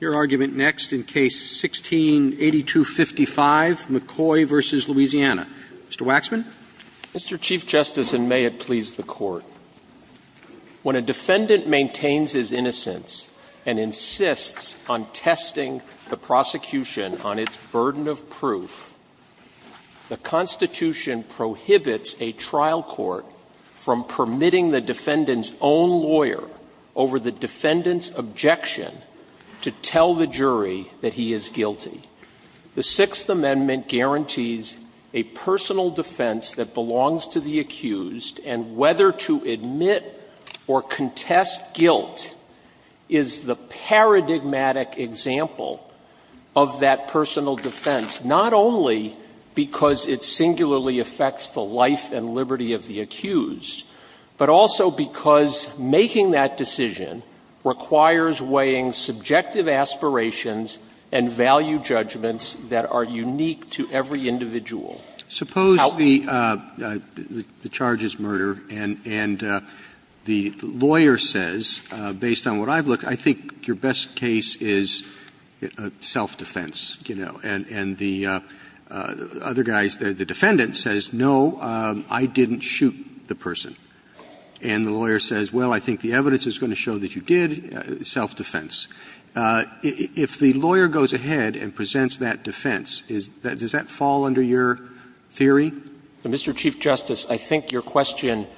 Your argument next in Case 16-8255, McCoy v. Louisiana. Mr. Waxman. Mr. Chief Justice, and may it please the Court, when a defendant maintains his innocence and insists on testing the prosecution on its burden of proof, the Constitution prohibits a trial court from permitting the defendant's own lawyer over the defendant's name to tell the jury that he is guilty. The Sixth Amendment guarantees a personal defense that belongs to the accused, and whether to admit or contest guilt is the paradigmatic example of that personal defense, not only because it singularly affects the life and liberty of the accused, but also because making that decision requires weighing subjective aspirations and value judgments that are unique to every individual. Suppose the charge is murder, and the lawyer says, based on what I've looked, I think your best case is self-defense, you know. And the other guy, the defendant, says, no, I didn't shoot the person. And the lawyer says, well, I think the evidence is going to show that you did, self-defense. If the lawyer goes ahead and presents that defense, does that fall under your theory? Mr. Chief Justice, I think your question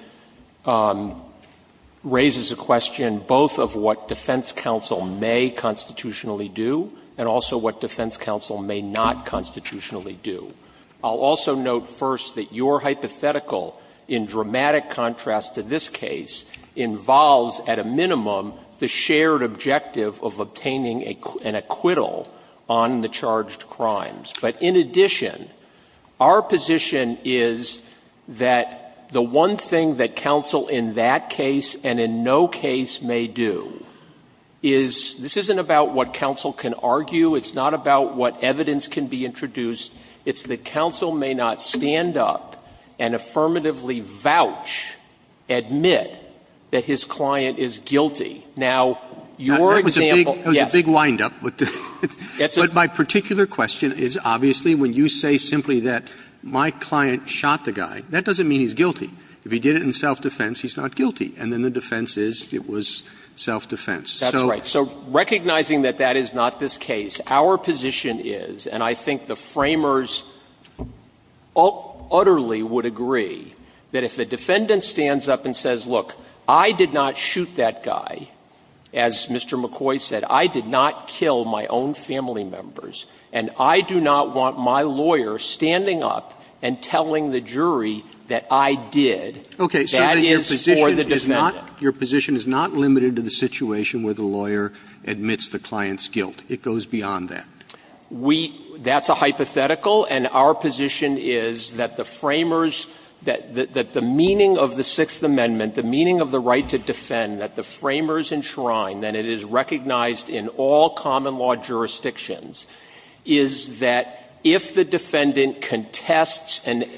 raises a question both of what defense counsel may constitutionally do and also what defense counsel may not constitutionally do. I'll also note first that your hypothetical, in dramatic contrast to this case, involves at a minimum the shared objective of obtaining an acquittal on the charged crimes. But in addition, our position is that the one thing that counsel in that case and in no case may do is this isn't about what counsel can argue, it's not about what evidence can be introduced, it's that counsel may not stand up and affirmatively vouch, admit that his client is guilty. Now, your example, yes. Roberts, that was a big windup. But my particular question is, obviously, when you say simply that my client shot the guy, that doesn't mean he's guilty. If he did it in self-defense, he's not guilty. And then the defense is it was self-defense. So the defense is he's not guilty. So recognizing that that is not this case, our position is, and I think the Framers utterly would agree, that if a defendant stands up and says, look, I did not shoot that guy, as Mr. McCoy said, I did not kill my own family members, and I do not want my lawyer standing up and telling the jury that I did, that is for the defendant. Roberts, your position is not limited to the situation where the lawyer admits the client's guilt. It goes beyond that. We – that's a hypothetical, and our position is that the Framers, that the meaning of the Sixth Amendment, the meaning of the right to defend that the Framers enshrine, that it is recognized in all common law jurisdictions, is that if the defendant contests and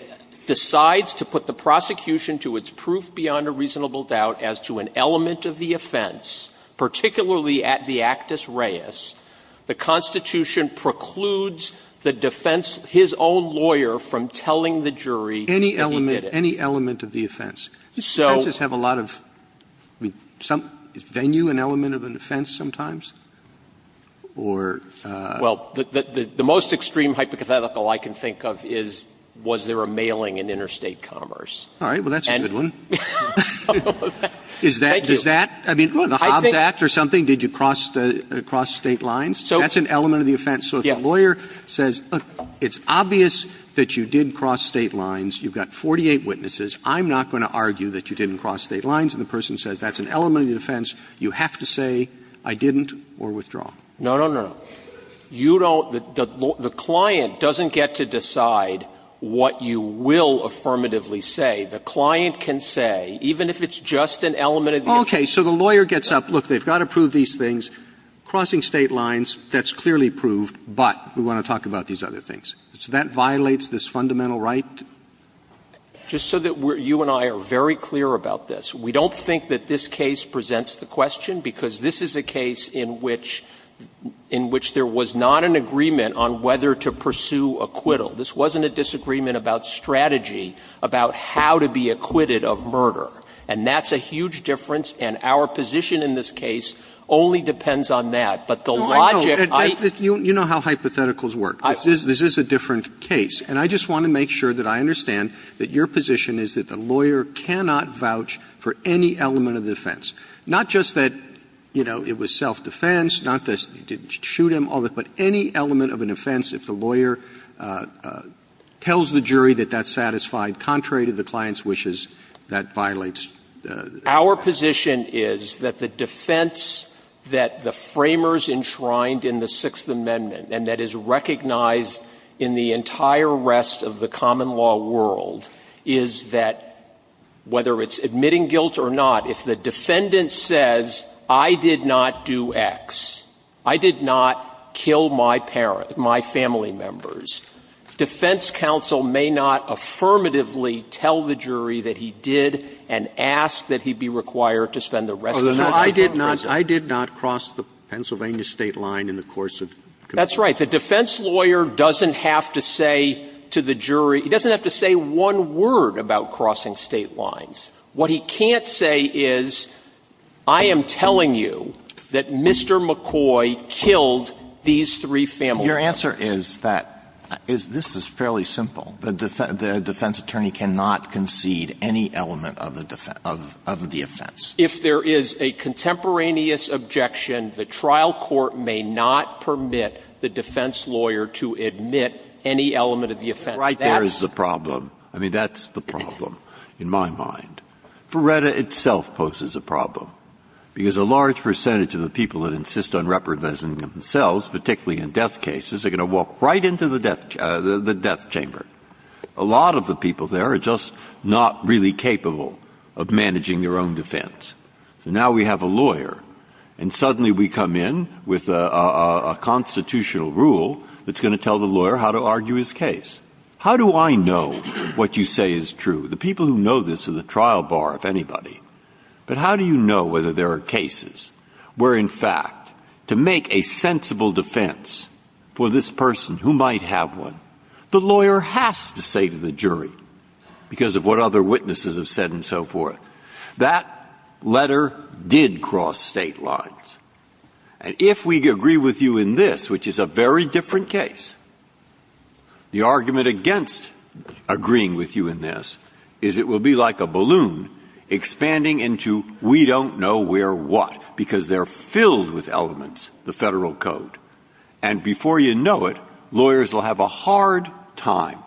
decides to put the prosecution to its proof beyond a reasonable doubt as to an element of the offense, particularly at the actus reus, the Constitution precludes the defense, his own lawyer, from telling the jury that he did it. Roberts, any element of the offense? Do offenses have a lot of – I mean, is venue an element of an offense sometimes? Or – Well, the most extreme hypothetical I can think of is, was there a mailing in interstate commerce? All right. Well, that's a good one. Is that – is that – I mean, the Hobbs Act or something, did you cross State lines? That's an element of the offense. So if a lawyer says, look, it's obvious that you did cross State lines, you've got 48 witnesses, I'm not going to argue that you didn't cross State lines, and the person says that's an element of the offense, you have to say, I didn't, or withdraw. No, no, no. You don't – the client doesn't get to decide what you will affirmatively say. The client can say, even if it's just an element of the offense. Okay. So the lawyer gets up, look, they've got to prove these things, crossing State lines, that's clearly proved, but we want to talk about these other things. So that violates this fundamental right? Just so that you and I are very clear about this, we don't think that this case presents the question, because this is a case in which – in which there was not an agreement on whether to pursue acquittal. This wasn't a disagreement about strategy, about how to be acquitted of murder. And that's a huge difference, and our position in this case only depends on that. But the logic – You know how hypotheticals work. This is a different case, and I just want to make sure that I understand that your position is that the lawyer cannot vouch for any element of the offense, not just that, you know, it was self-defense, not that you didn't shoot him, all that, but any element of an offense, if the lawyer tells the jury that that's satisfied, contrary to the client's wishes, that violates the right. Our position is that the defense that the Framers enshrined in the Sixth Amendment and that is recognized in the entire rest of the common law world is that, whether it's admitting guilt or not, if the defendant says, I did not do X, I did not kill my parent – my family members, defense counsel may not affirmatively tell the jury that he did and ask that he be required to spend the rest of his life in prison. But I did not cross the Pennsylvania State line in the course of conviction. That's right. The defense lawyer doesn't have to say to the jury – he doesn't have to say one word about crossing State lines. What he can't say is, I am telling you that Mr. McCoy killed these three family members. Your answer is that this is fairly simple. The defense attorney cannot concede any element of the offense. If there is a contemporaneous objection, the trial court may not permit the defense lawyer to admit any element of the offense. That's the problem. I mean, that's the problem in my mind. Ferretta itself poses a problem, because a large percentage of the people that insist on reproducing themselves, particularly in death cases, are going to walk right into the death chamber. A lot of the people there are just not really capable of managing their own defense. So now we have a lawyer, and suddenly we come in with a constitutional rule that's going to tell the lawyer how to argue his case. How do I know what you say is true? The people who know this are the trial bar, if anybody. But how do you know whether there are cases where, in fact, to make a sensible defense for this person who might have one, the lawyer has to say to the jury, because of what other witnesses have said and so forth, that letter did cross State lines? And if we agree with you in this, which is a very different case, the argument against agreeing with you in this is it will be like a balloon expanding into we don't know where what, because they're filled with elements, the Federal Code. And before you know it, lawyers will have a hard time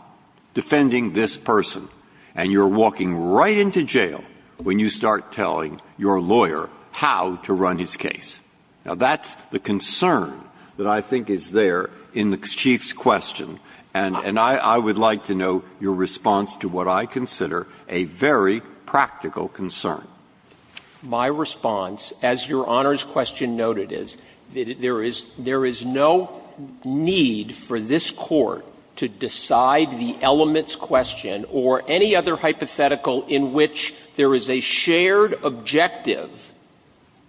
defending this person, and you're walking right into jail when you start telling your lawyer how to run his case. Now, that's the concern that I think is there in the Chief's question, and I would like to know your response to what I consider a very practical concern. Waxman, my response, as Your Honor's question noted, is there is no need for this Court to decide the elements question or any other hypothetical in which there is a shared objective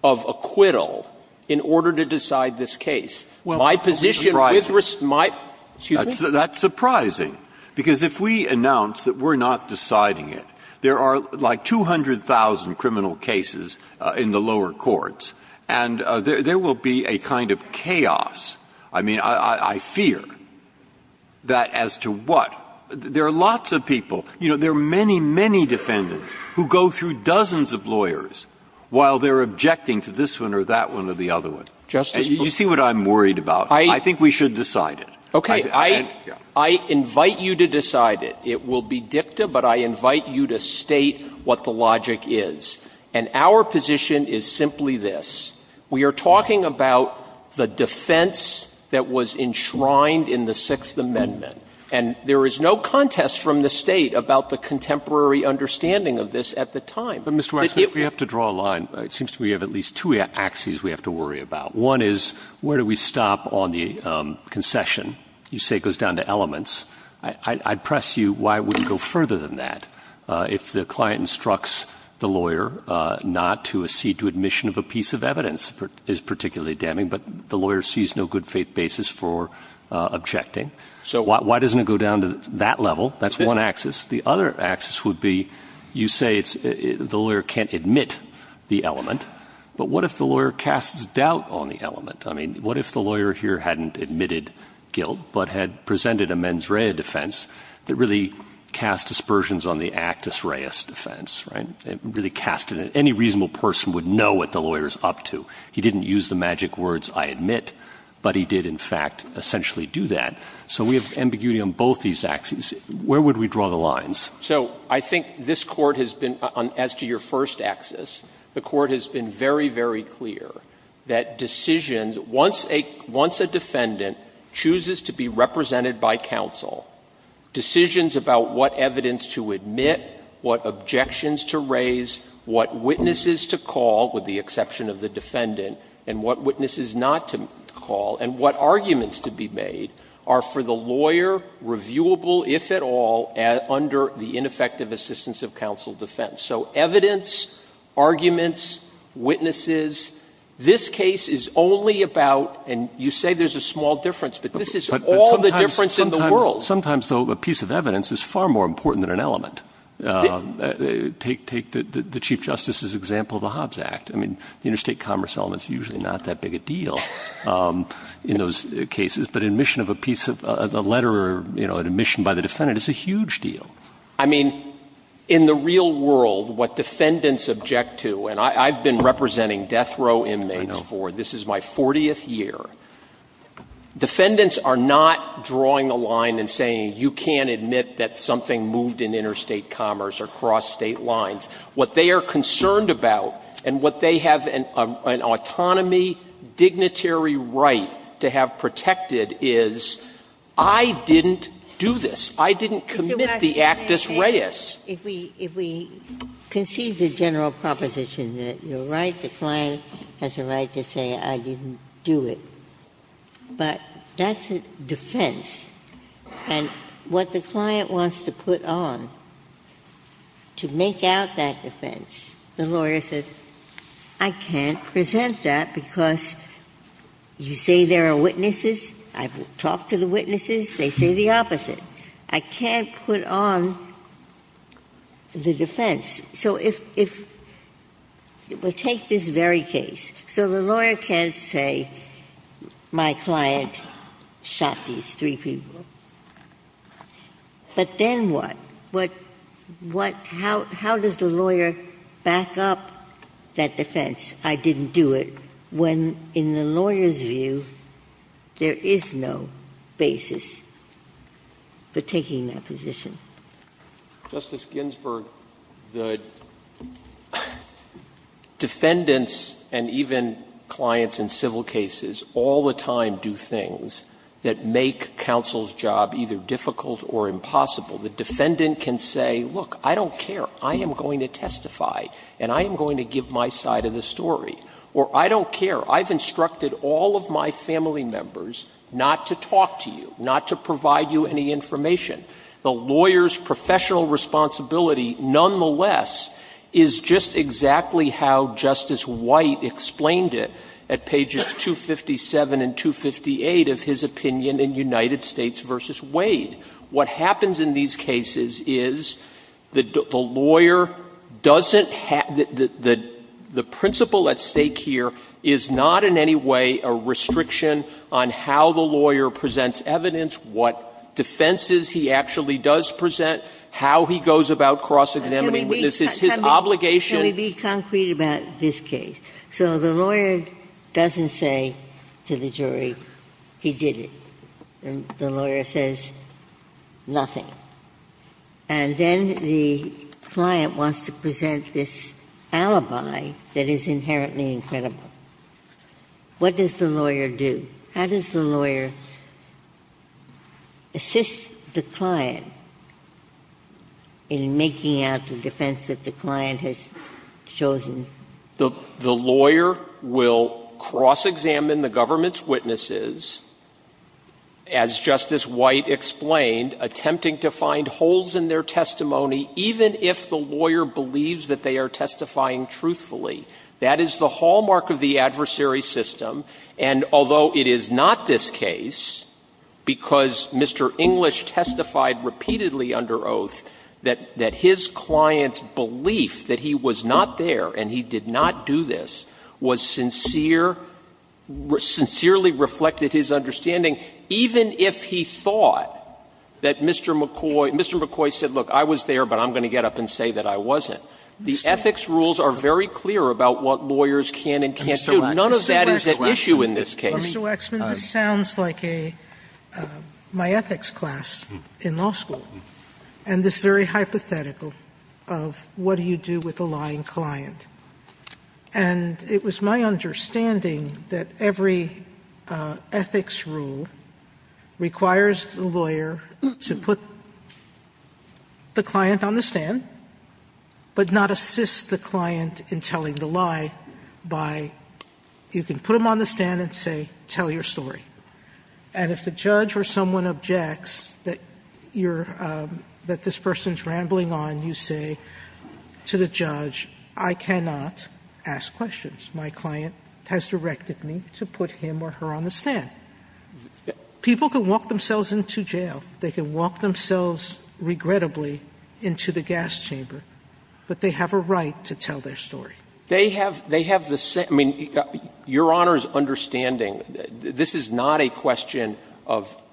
of acquittal in order to decide this case. My position with respect to my question is that's surprising, because if we announce that we're not deciding it, there are, like, 200,000 criminal cases in the lower courts, and there will be a kind of chaos. I mean, I fear that as to what — there are lots of people, you know, there are many, many defendants who go through dozens of lawyers while they're objecting to this one or that one or the other one. And you see what I'm worried about? I think we should decide it. Okay. I invite you to decide it. It will be dicta, but I invite you to state what the logic is. And our position is simply this. We are talking about the defense that was enshrined in the Sixth Amendment, and there is no contest from the State about the contemporary understanding of this at the time. But it — But, Mr. Waxman, if we have to draw a line, it seems to me we have at least two axes we have to worry about. One is, where do we stop on the concession? You say it goes down to elements. I press you, why would it go further than that if the client instructs the lawyer not to accede to admission of a piece of evidence is particularly damning, but the lawyer sees no good-faith basis for objecting? So why doesn't it go down to that level? That's one axis. The other axis would be, you say it's — the lawyer can't admit the element. But what if the lawyer casts doubt on the element? I mean, what if the lawyer here hadn't admitted guilt, but had presented a mens rea defense that really cast aspersions on the actus reus defense, right? Really cast it — any reasonable person would know what the lawyer is up to. He didn't use the magic words, I admit, but he did, in fact, essentially do that. So we have ambiguity on both these axes. Where would we draw the lines? So I think this Court has been — as to your first axis, the Court has been very, very clear that decisions — once a defendant chooses to be represented by counsel, decisions about what evidence to admit, what objections to raise, what witnesses to call, with the exception of the defendant, and what witnesses not to call, and what arguments to be made are for the lawyer reviewable, if at all, under the ineffective assistance of counsel defense. So evidence, arguments, witnesses, this case is only about — and you say there's a small difference, but this is all the difference in the world. Sometimes, though, a piece of evidence is far more important than an element. Take the Chief Justice's example of the Hobbs Act. I mean, interstate commerce elements are usually not that big a deal in those cases. But admission of a piece of — a letter, you know, an admission by the defendant is a huge deal. I mean, in the real world, what defendants object to — and I've been representing death row inmates for — this is my 40th year. Defendants are not drawing a line and saying, you can't admit that something moved in interstate commerce or crossed state lines. What they are concerned about, and what they have an autonomy, dignitary right to have protected, is I didn't do this. I didn't commit the actus reus. Ginsburg. If we — if we concede the general proposition that you're right, the client has a right to say, I didn't do it, but that's a defense. And what the client wants to put on, to make out that defense, the lawyer says, I can't present that because you say there are witnesses, I've talked to the witnesses, they say the opposite. I can't put on the defense. So if — we'll take this very case. So the lawyer can't say, my client shot these three people. But then what? What — what — how — how does the lawyer back up that defense, I didn't do it, when in the lawyer's view, there is no basis for taking that position? Justice Ginsburg, the defendants and even clients in civil cases all the time do things that make counsel's job either difficult or impossible. The defendant can say, look, I don't care, I am going to testify and I am going to give my side of the story. Or I don't care, I've instructed all of my family members not to talk to you, not to provide you any information. The lawyer's professional responsibility, nonetheless, is just exactly how Justice White explained it at pages 257 and 258 of his opinion in United States v. Wade. What happens in these cases is the lawyer doesn't have — the principle at stake here is not in any way a restriction on how the lawyer presents evidence, what defenses he actually does present, how he goes about cross-examining witnesses, his obligation. Ginsburg. Can we be concrete about this case? So the lawyer doesn't say to the jury, he did it. The lawyer says nothing. And then the client wants to present this alibi that is inherently incredible. What does the lawyer do? How does the lawyer assist the client in making out the defense that the client has chosen? The lawyer will cross-examine the government's witnesses, as Justice White explained, attempting to find holes in their testimony, even if the lawyer believes that they are testifying truthfully. That is the hallmark of the adversary system. And although it is not this case, because Mr. English testified repeatedly under oath that his client's belief that he was not there and he did not do this was sincere, sincerely reflected his understanding, even if he thought that Mr. McCoy — Mr. McCoy said, look, I was there, but I'm going to get up and say that I wasn't. The ethics rules are very clear about what lawyers can and can't do. None of that is at issue in this case. Sotomayor, this sounds like a — my ethics class in law school, and this very hypothetical of what do you do with a lying client. And it was my understanding that every ethics rule requires the lawyer to put the client on the stand, but not assist the client in telling the lie by — you can put them on the stand and say, tell your story. And if the judge or someone objects that you're — that this person's rambling on, you say to the judge, I cannot ask questions. My client has directed me to put him or her on the stand. People can walk themselves into jail. They can walk themselves, regrettably, into the gas chamber, but they have a right to tell their story. They have — they have the — I mean, Your Honor's understanding, this is not a question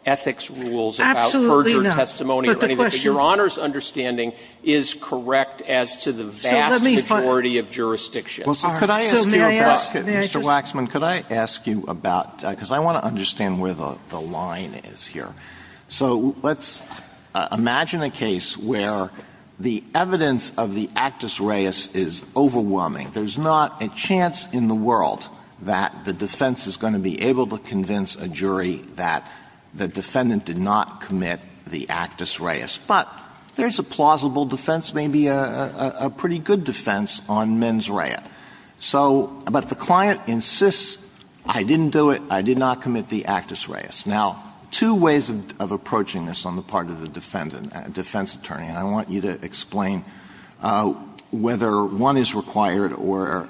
Absolutely not. But Your Honor's understanding is correct as to the vast majority of jurisdictions. Mr. Waxman, could I ask you about — because I want to understand where the line is here. So let's imagine a case where the evidence of the actus reus is overwhelming. There's not a chance in the world that the defense is going to be able to convince a jury that the defendant did not commit the actus reus. But there's a plausible defense, maybe a pretty good defense, on mens rea. So — but the client insists, I didn't do it, I did not commit the actus reus. Now, two ways of approaching this on the part of the defendant, defense attorney, and I want you to explain whether one is required or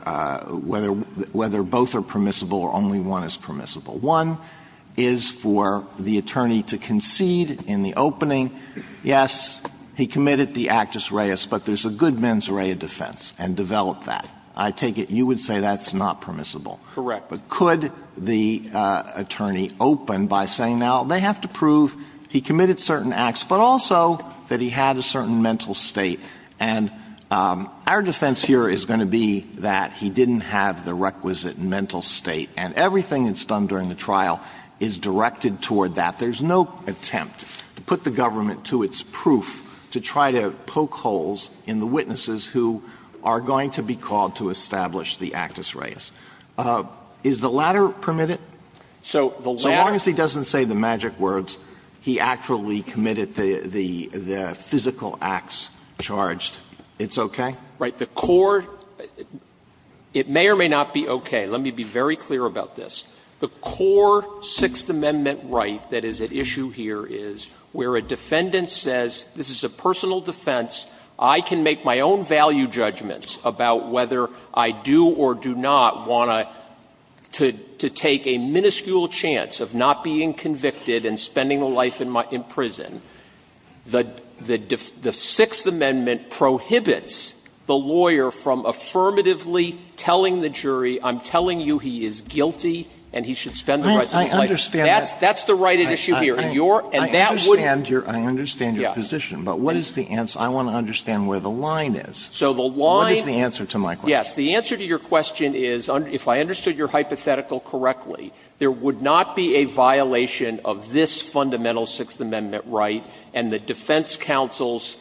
whether — whether both are permissible or only one is permissible. One is for the attorney to concede in the opening, yes, he committed the actus reus, but there's a good mens rea defense, and develop that. I take it you would say that's not permissible. Correct. But could the attorney open by saying, now, they have to prove he committed certain acts, but also that he had a certain mental state. And our defense here is going to be that he didn't have the requisite mental state. And everything that's done during the trial is directed toward that. There's no attempt to put the government to its proof to try to poke holes in the witnesses who are going to be called to establish the actus reus. Is the latter permitted? So the latter — So long as he doesn't say the magic words, he actually committed the — the physical acts charged, it's okay? Right. The core — it may or may not be okay. Let me be very clear about this. The core Sixth Amendment right that is at issue here is where a defendant says, this is a personal defense, I can make my own value judgments about whether I do or do not want to take a minuscule chance of not being convicted and spending a life in prison. The Sixth Amendment prohibits the lawyer from affirmatively telling the jury, I'm telling you he is guilty and he should spend the rest of his life. That's the right at issue here. And your — and that would — I understand your position, but what is the answer? I want to understand where the line is. What is the answer to my question? Yes. The answer to your question is, if I understood your hypothetical correctly, there would not be a violation of this fundamental Sixth Amendment right and the defense counsel's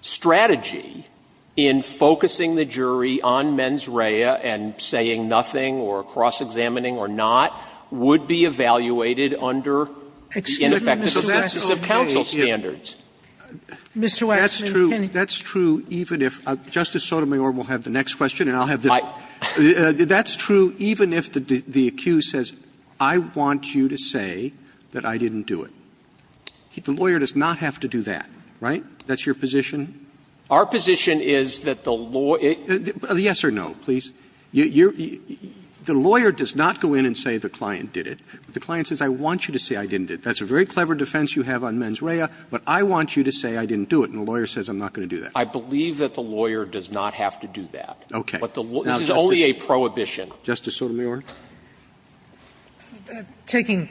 strategy in focusing the jury on mens rea and saying nothing or cross-examining or not would be evaluated under the ineffectiveness of counsel standards. Excuse me, Mr. Waxman, can you — Mr. Waxman, can you — That's true, that's true, even if — Justice Sotomayor will have the next question and I'll have the next one. That's true even if the accused says, I want you to say that I didn't do it. The lawyer does not have to do that, right? That's your position? Our position is that the law — Yes or no, please. You're — the lawyer does not go in and say the client did it. The client says, I want you to say I didn't do it. That's a very clever defense you have on mens rea, but I want you to say I didn't do it, and the lawyer says I'm not going to do that. I believe that the lawyer does not have to do that. Okay. But the law — this is only a prohibition. Justice Sotomayor. Taking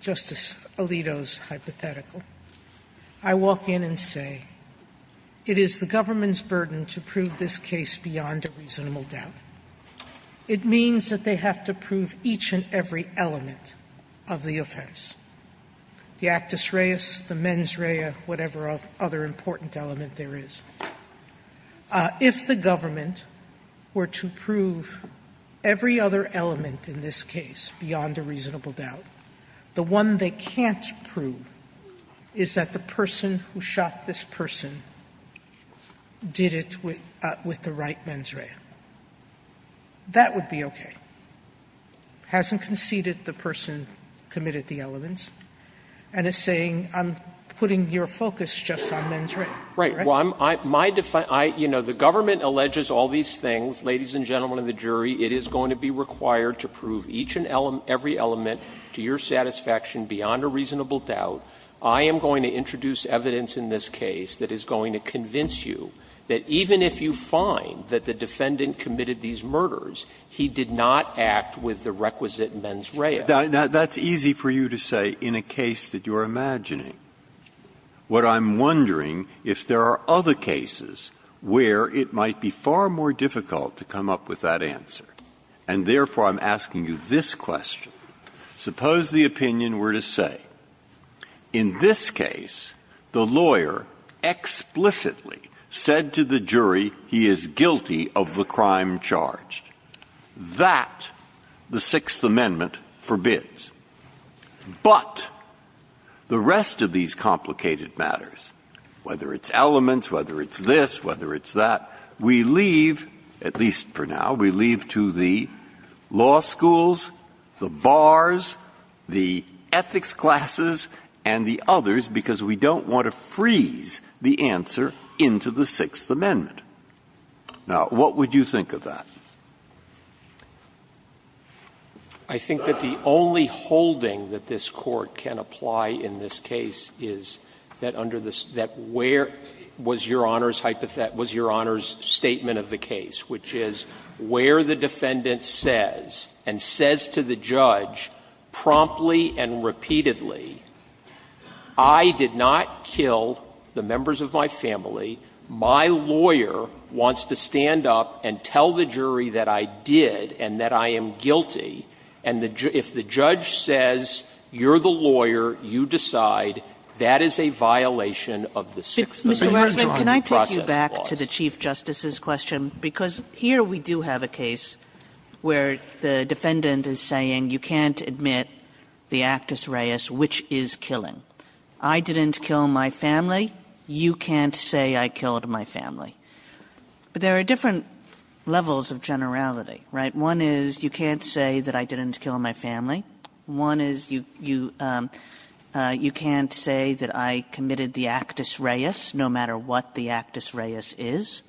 Justice Alito's hypothetical, I walk in and say it is the government's burden to prove this case beyond a reasonable doubt. It means that they have to prove each and every element of the offense, the actus reis, the mens rea, whatever other important element there is. If the government were to prove every other element in this case beyond a reasonable doubt, the one they can't prove is that the person who shot this person did it with the right mens rea, that would be okay. It hasn't conceded the person committed the elements, and it's saying I'm putting your focus just on mens rea, right? So I'm — my — you know, the government alleges all these things. Ladies and gentlemen of the jury, it is going to be required to prove each and every element to your satisfaction beyond a reasonable doubt. I am going to introduce evidence in this case that is going to convince you that even if you find that the defendant committed these murders, he did not act with the requisite mens rea. Breyer. That's easy for you to say in a case that you are imagining. What I'm wondering, if there are other cases where it might be far more difficult to come up with that answer, and therefore I'm asking you this question, suppose the opinion were to say, in this case, the lawyer explicitly said to the jury he is guilty of the crime charged. That the Sixth Amendment forbids. But the rest of these complicated matters, whether it's elements, whether it's this, whether it's that, we leave, at least for now, we leave to the law schools, the bars, the ethics classes, and the others, because we don't want to freeze the answer into the Sixth Amendment. Now, what would you think of that? Waxman. I think that the only holding that this Court can apply in this case is that under the statement of the case, which is where the defendant says and says to the judge promptly and repeatedly, I did not kill the members of my family, my lawyer wants me to tell the jury that I did and that I am guilty, and if the judge says, you're the lawyer, you decide, that is a violation of the Sixth Amendment process clause. Kagan. Mr. Waxman, can I take you back to the Chief Justice's question, because here we do have a case where the defendant is saying, you can't admit the actus reius, which is killing. But there are different levels of generality, right? One is you can't say that I didn't kill my family. One is you can't say that I committed the actus reius, no matter what the actus reius is.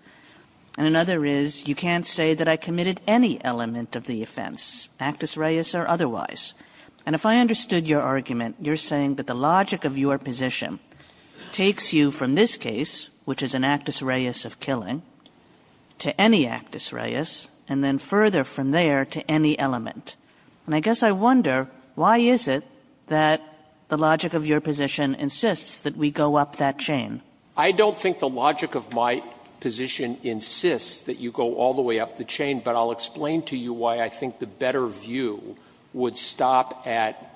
And another is you can't say that I committed any element of the offense, actus reius or otherwise. And if I understood your argument, you're saying that the logic of your position takes you from this case, which is an actus reius of killing, to any actus reius, and then further from there to any element. And I guess I wonder, why is it that the logic of your position insists that we go up that chain? I don't think the logic of my position insists that you go all the way up the chain, but I'll explain to you why I think the better view would stop at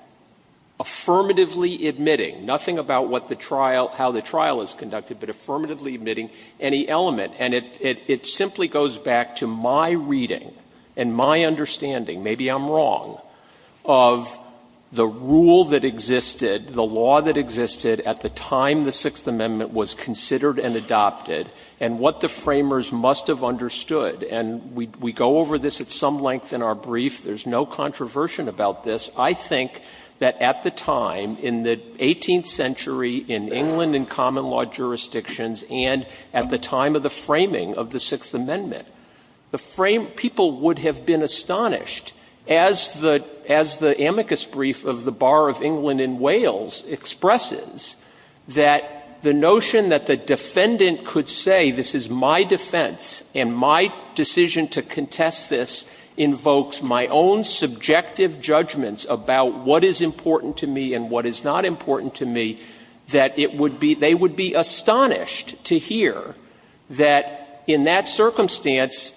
affirmatively admitting, nothing about what the trial — how the trial is conducted, but affirmatively admitting any element. And it simply goes back to my reading and my understanding, maybe I'm wrong, of the rule that existed, the law that existed at the time the Sixth Amendment was considered and adopted, and what the framers must have understood. And we go over this at some length in our brief. There's no controversy about this. I think that at the time, in the 18th century, in England and common law jurisdictions, and at the time of the framing of the Sixth Amendment, the frame — people would have been astonished, as the amicus brief of the Bar of England and Wales expresses that the notion that the defendant could say, this is my defense and my decision to contest this invokes my own subjective judgments about what is important to me and what is not important to me, that it would be — they would be astonished to hear that in that circumstance,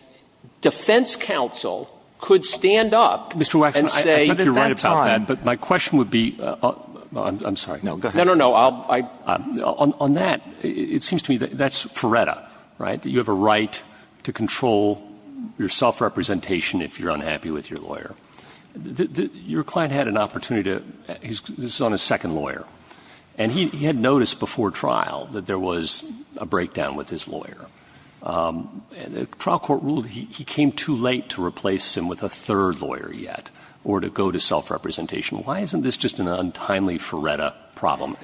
defense counsel could stand up and say — Roberts, Mr. Waxman, I think you're right about that, but my question would be — I'm sorry. No, go ahead. No, no, no, I'll — on that, it seems to me that that's Furetta, right, that you have a right to control your self-representation if you're unhappy with your lawyer. Your client had an opportunity to — he's on his second lawyer, and he had noticed before trial that there was a breakdown with his lawyer. And the trial court ruled he came too late to replace him with a third lawyer yet or to go to self-representation. Why isn't this just an untimely Furetta problem?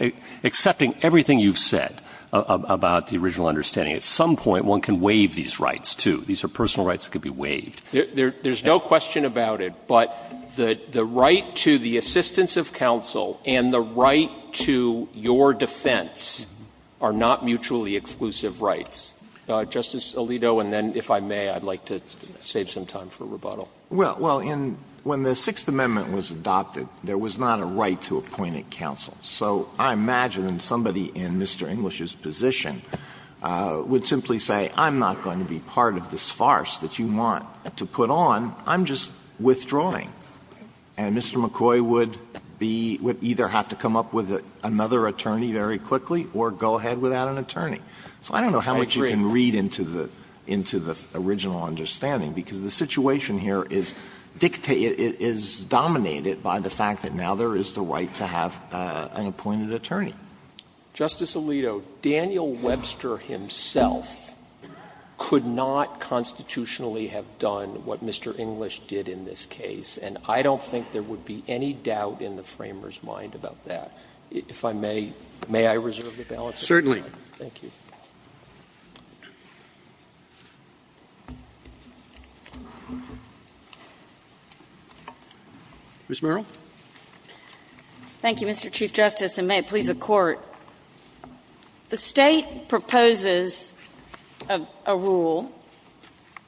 Accepting everything you've said about the original understanding, at some point one can waive these rights, too. These are personal rights that could be waived. There's no question about it, but the right to the assistance of counsel and the right to your defense are not mutually exclusive rights. Justice Alito, and then if I may, I'd like to save some time for rebuttal. Well, in — when the Sixth Amendment was adopted, there was not a right to appoint a counsel. So I imagine somebody in Mr. English's position would simply say, I'm not going to be part of this farce that you want to put on, I'm just withdrawing. And Mr. McCoy would be — would either have to come up with another attorney very quickly or go ahead without an attorney. So I don't know how much you can read into the — into the original understanding, because the situation here is dictated — is dominated by the fact that now there is the right to have an appointed attorney. Justice Alito, Daniel Webster himself could not constitutionally have done what Mr. English did in this case, and I don't think there would be any doubt in the Framer's mind about that. If I may, may I reserve the balance of my time? Certainly. Thank you. Ms. Merrill. Thank you, Mr. Chief Justice, and may it please the Court. The State proposes a rule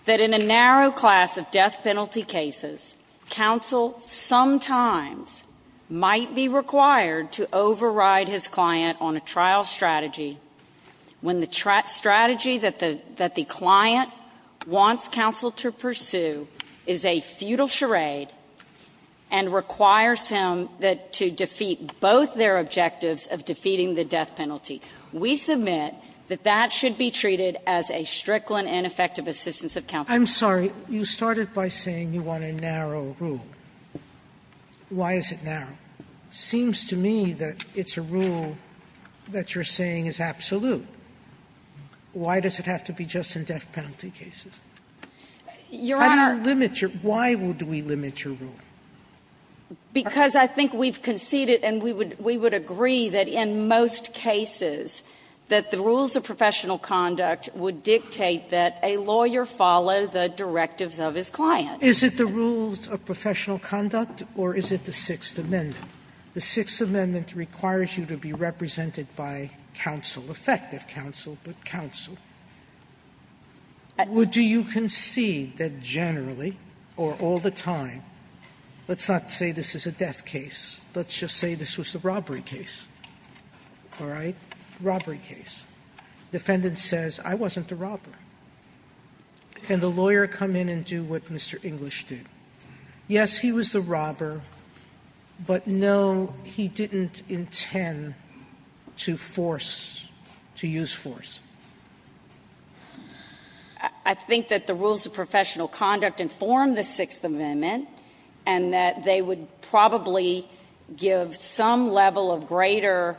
that in a narrow class of death penalty cases, counsel sometimes might be required to override his client on a trial strategy when the strategy that the client wants counsel to pursue is a futile charade and requires him to defeat both their objectives of defeating the death penalty. We submit that that should be treated as a strickland ineffective assistance of counsel. I'm sorry. You started by saying you want a narrow rule. Why is it narrow? It seems to me that it's a rule that you're saying is absolute. Why does it have to be just in death penalty cases? Your Honor — How do you limit your — why would we limit your rule? Because I think we've conceded and we would — we would agree that in most cases that the rules of professional conduct would dictate that a lawyer follow the directives of his client. Is it the rules of professional conduct or is it the Sixth Amendment? The Sixth Amendment requires you to be represented by counsel, effective counsel, but counsel. Would you concede that generally or all the time — let's not say this is a death case, let's just say this was a robbery case, all right? Robbery case. Defendant says, I wasn't the robber. Can the lawyer come in and do what Mr. English did? Yes, he was the robber, but no, he didn't intend to force, to use force. I think that the rules of professional conduct inform the Sixth Amendment and that they would probably give some level of greater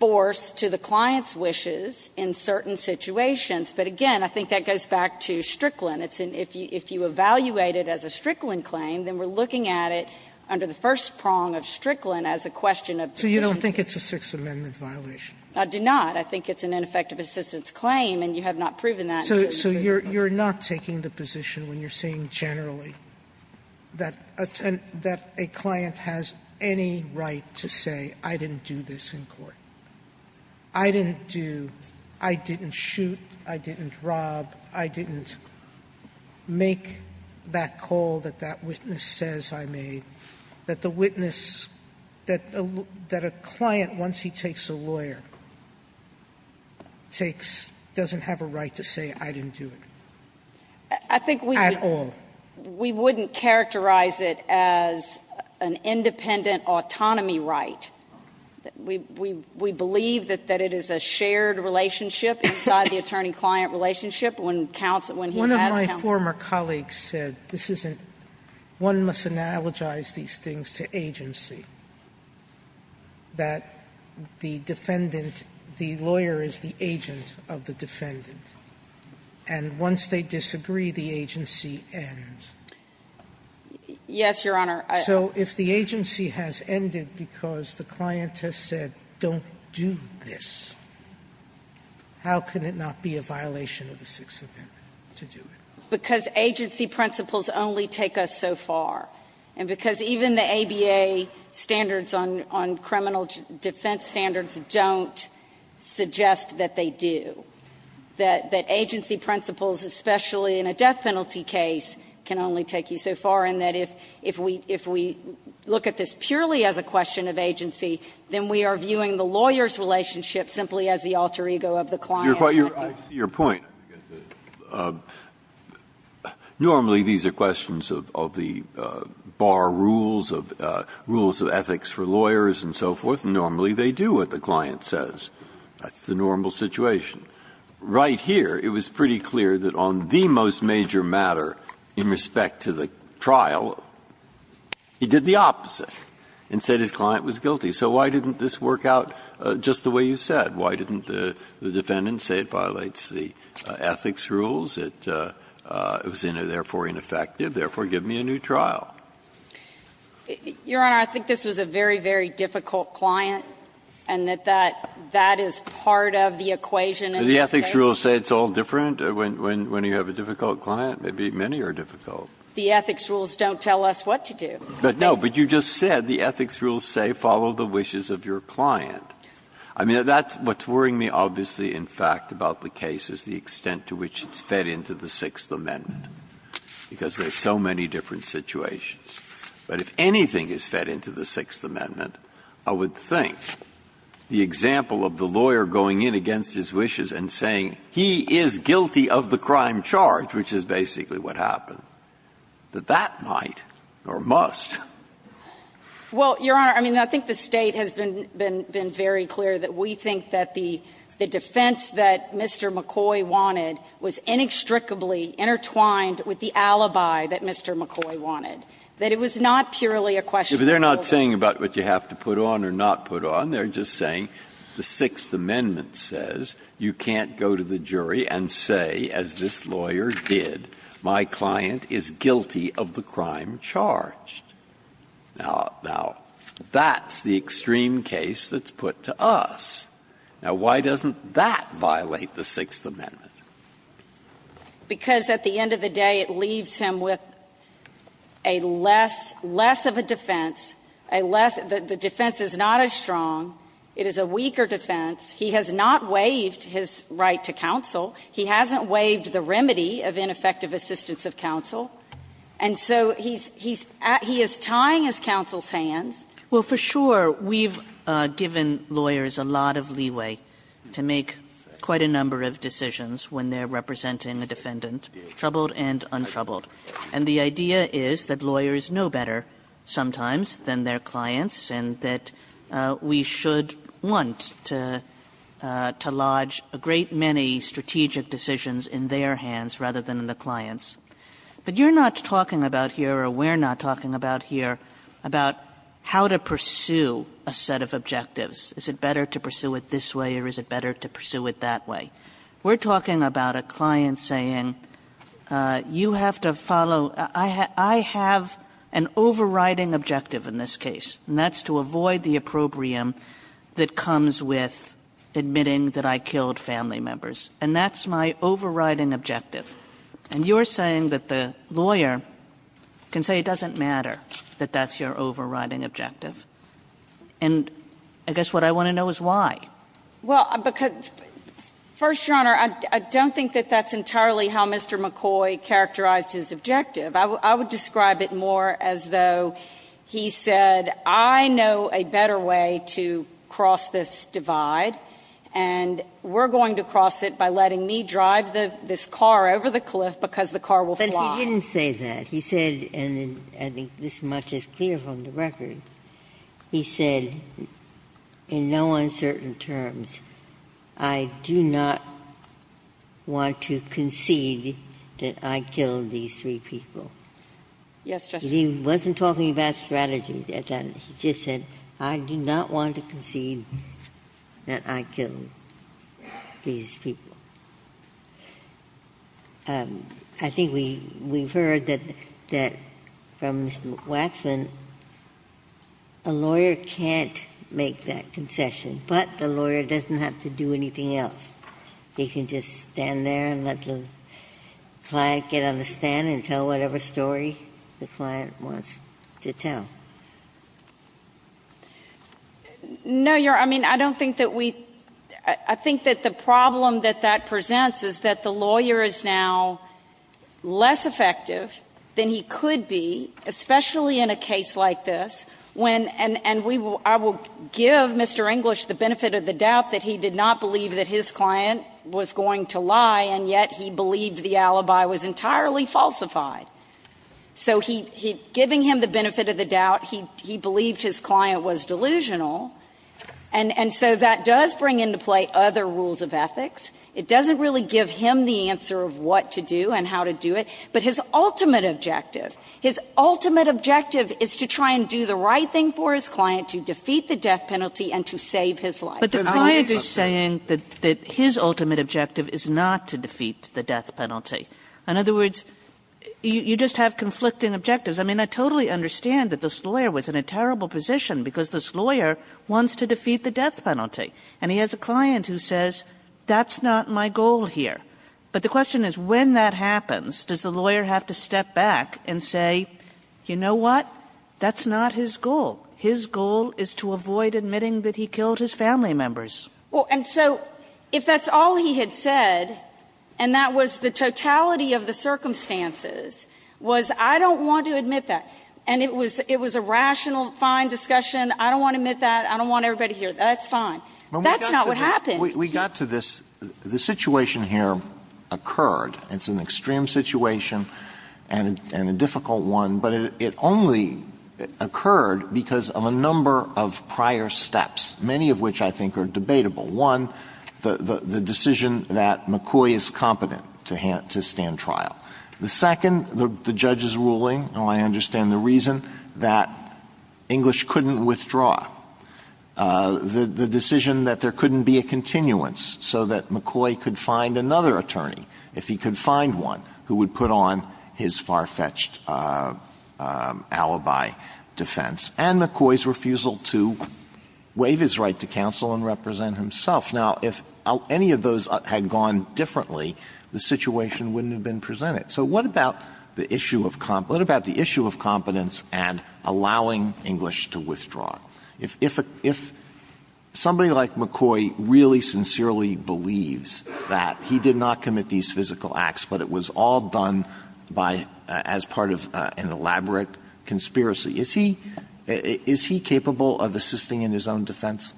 force to the client's wishes in certain situations. But again, I think that goes back to Strickland. It's an — if you evaluate it as a Strickland claim, then we're looking at it under the first prong of Strickland as a question of position. So you don't think it's a Sixth Amendment violation? I do not. I think it's an ineffective assistance claim, and you have not proven that. Sotomayor, so you're not taking the position when you're saying generally that a client has any right to say, I didn't do this in court? I didn't do — I didn't shoot, I didn't rob, I didn't make that call that that witness says I made, that the witness — that a client, once he takes a lawyer, takes — doesn't have a right to say, I didn't do it at all. I think we wouldn't characterize it as an independent autonomy right. We believe that it is a shared relationship inside the attorney-client relationship when he has counsel. One of my former colleagues said this isn't — one must analogize these things to agency, that the defendant, the lawyer is the agent of the defendant, and once they disagree, the agency ends. Yes, Your Honor. So if the agency has ended because the client has said, don't do this, how can it not be a violation of the Sixth Amendment to do it? Because agency principles only take us so far, and because even the ABA standards on criminal defense standards don't suggest that they do, that agency principles, especially in a death penalty case, can only take you so far, and that if we — if we look at this purely as a question of agency, then we are viewing the lawyer's relationship simply as the alter ego of the client. Breyer, I see your point. Normally, these are questions of the bar rules, of rules of ethics for lawyers and so forth, and normally they do what the client says. That's the normal situation. Right here, it was pretty clear that on the most major matter in respect to the trial, he did the opposite and said his client was guilty. So why didn't this work out just the way you said? Why didn't the defendant say it violates the ethics rules, that it was, therefore, ineffective, therefore give me a new trial? Your Honor, I think this was a very, very difficult client, and that that is part of the equation in this case. But the ethics rules say it's all different when you have a difficult client? Maybe many are difficult. The ethics rules don't tell us what to do. But, no, but you just said the ethics rules say follow the wishes of your client. I mean, that's what's worrying me, obviously, in fact, about the case is the extent to which it's fed into the Sixth Amendment, because there are so many different situations. But if anything is fed into the Sixth Amendment, I would think the example of the lawyer going in against his wishes and saying he is guilty of the crime charge, which is basically what happened, that that might or must. Well, Your Honor, I mean, I think the State has been very clear that we think that the defense that Mr. McCoy wanted was inextricably intertwined with the alibi that Mr. McCoy wanted, that it was not purely a question of the lawyer. They are not saying about what you have to put on or not put on. They are just saying the Sixth Amendment says you can't go to the jury and say, as this lawyer did, my client is guilty of the crime charge. Now, that's the extreme case that's put to us. Now, why doesn't that violate the Sixth Amendment? Because at the end of the day, it leaves him with a less, less of a defense, a less the defense is not as strong, it is a weaker defense. He has not waived his right to counsel. He hasn't waived the remedy of ineffective assistance of counsel. And so he's at he is tying his counsel's hands. Kagan. Kagan. Well, for sure, we've given lawyers a lot of leeway to make quite a number of decisions when they're representing a defendant, troubled and untroubled. And the idea is that lawyers know better sometimes than their clients and that we should want to lodge a great many strategic decisions in their hands rather than in the client's. But you're not talking about here, or we're not talking about here, about how to pursue a set of objectives. Is it better to pursue it this way or is it better to pursue it that way? We're talking about a client saying, you have to follow – I have an overriding objective in this case, and that's to avoid the opprobrium that comes with admitting that I killed family members. And that's my overriding objective. And you're saying that the lawyer can say it doesn't matter that that's your overriding objective. And I guess what I want to know is why. Well, because, First Your Honor, I don't think that that's entirely how Mr. McCoy characterized his objective. I would describe it more as though he said, I know a better way to cross this divide, and we're going to cross it by letting me drive this car over the cliff because the car will fly. But he didn't say that. He said, and I think this much is clear from the record, he said, in no uncertain terms, I do not want to concede that I killed these three people. He wasn't talking about strategy. He just said, I do not want to concede that I killed these people. I think we've heard that from Mr. Waxman, a lawyer can't make that concession. But the lawyer doesn't have to do anything else. They can just stand there and let the client get on the stand and tell whatever story the client wants to tell. No, Your Honor, I mean, I don't think that we – I think that the problem that that presents is that the lawyer is now less effective than he could be, especially in a case like this, when – and we will – I will give Mr. English the opportunity to say that he did not believe that his client was going to lie, and yet he believed the alibi was entirely falsified. So he – giving him the benefit of the doubt, he believed his client was delusional, and so that does bring into play other rules of ethics. It doesn't really give him the answer of what to do and how to do it, but his ultimate objective, his ultimate objective is to try and do the right thing for his client to defeat the death penalty and to save his life. But the client is saying that his ultimate objective is not to defeat the death penalty. In other words, you just have conflicting objectives. I mean, I totally understand that this lawyer was in a terrible position because this lawyer wants to defeat the death penalty, and he has a client who says, that's not my goal here. But the question is, when that happens, does the lawyer have to step back and say, you know what? That's not his goal. His goal is to avoid admitting that he killed his family members. Well, and so if that's all he had said, and that was the totality of the circumstances, was, I don't want to admit that, and it was a rational, fine discussion, I don't want to admit that, I don't want everybody to hear that, that's fine. That's not what happened. We got to this – the situation here occurred. It's an extreme situation and a difficult one, but it only occurred because of a number of prior steps, many of which I think are debatable. One, the decision that McCoy is competent to stand trial. The second, the judge's ruling, and I understand the reason, that English couldn't withdraw. The decision that there couldn't be a continuance so that McCoy could find another attorney, if he could find one, who would put on his far-fetched alibi defense. And McCoy's refusal to waive his right to counsel and represent himself. Now, if any of those had gone differently, the situation wouldn't have been presented. So what about the issue of competence and allowing English to withdraw? If somebody like McCoy really sincerely believes that he did not commit these physical acts, but it was all done by – as part of an elaborate conspiracy, is he – is he capable of assisting in his own defense?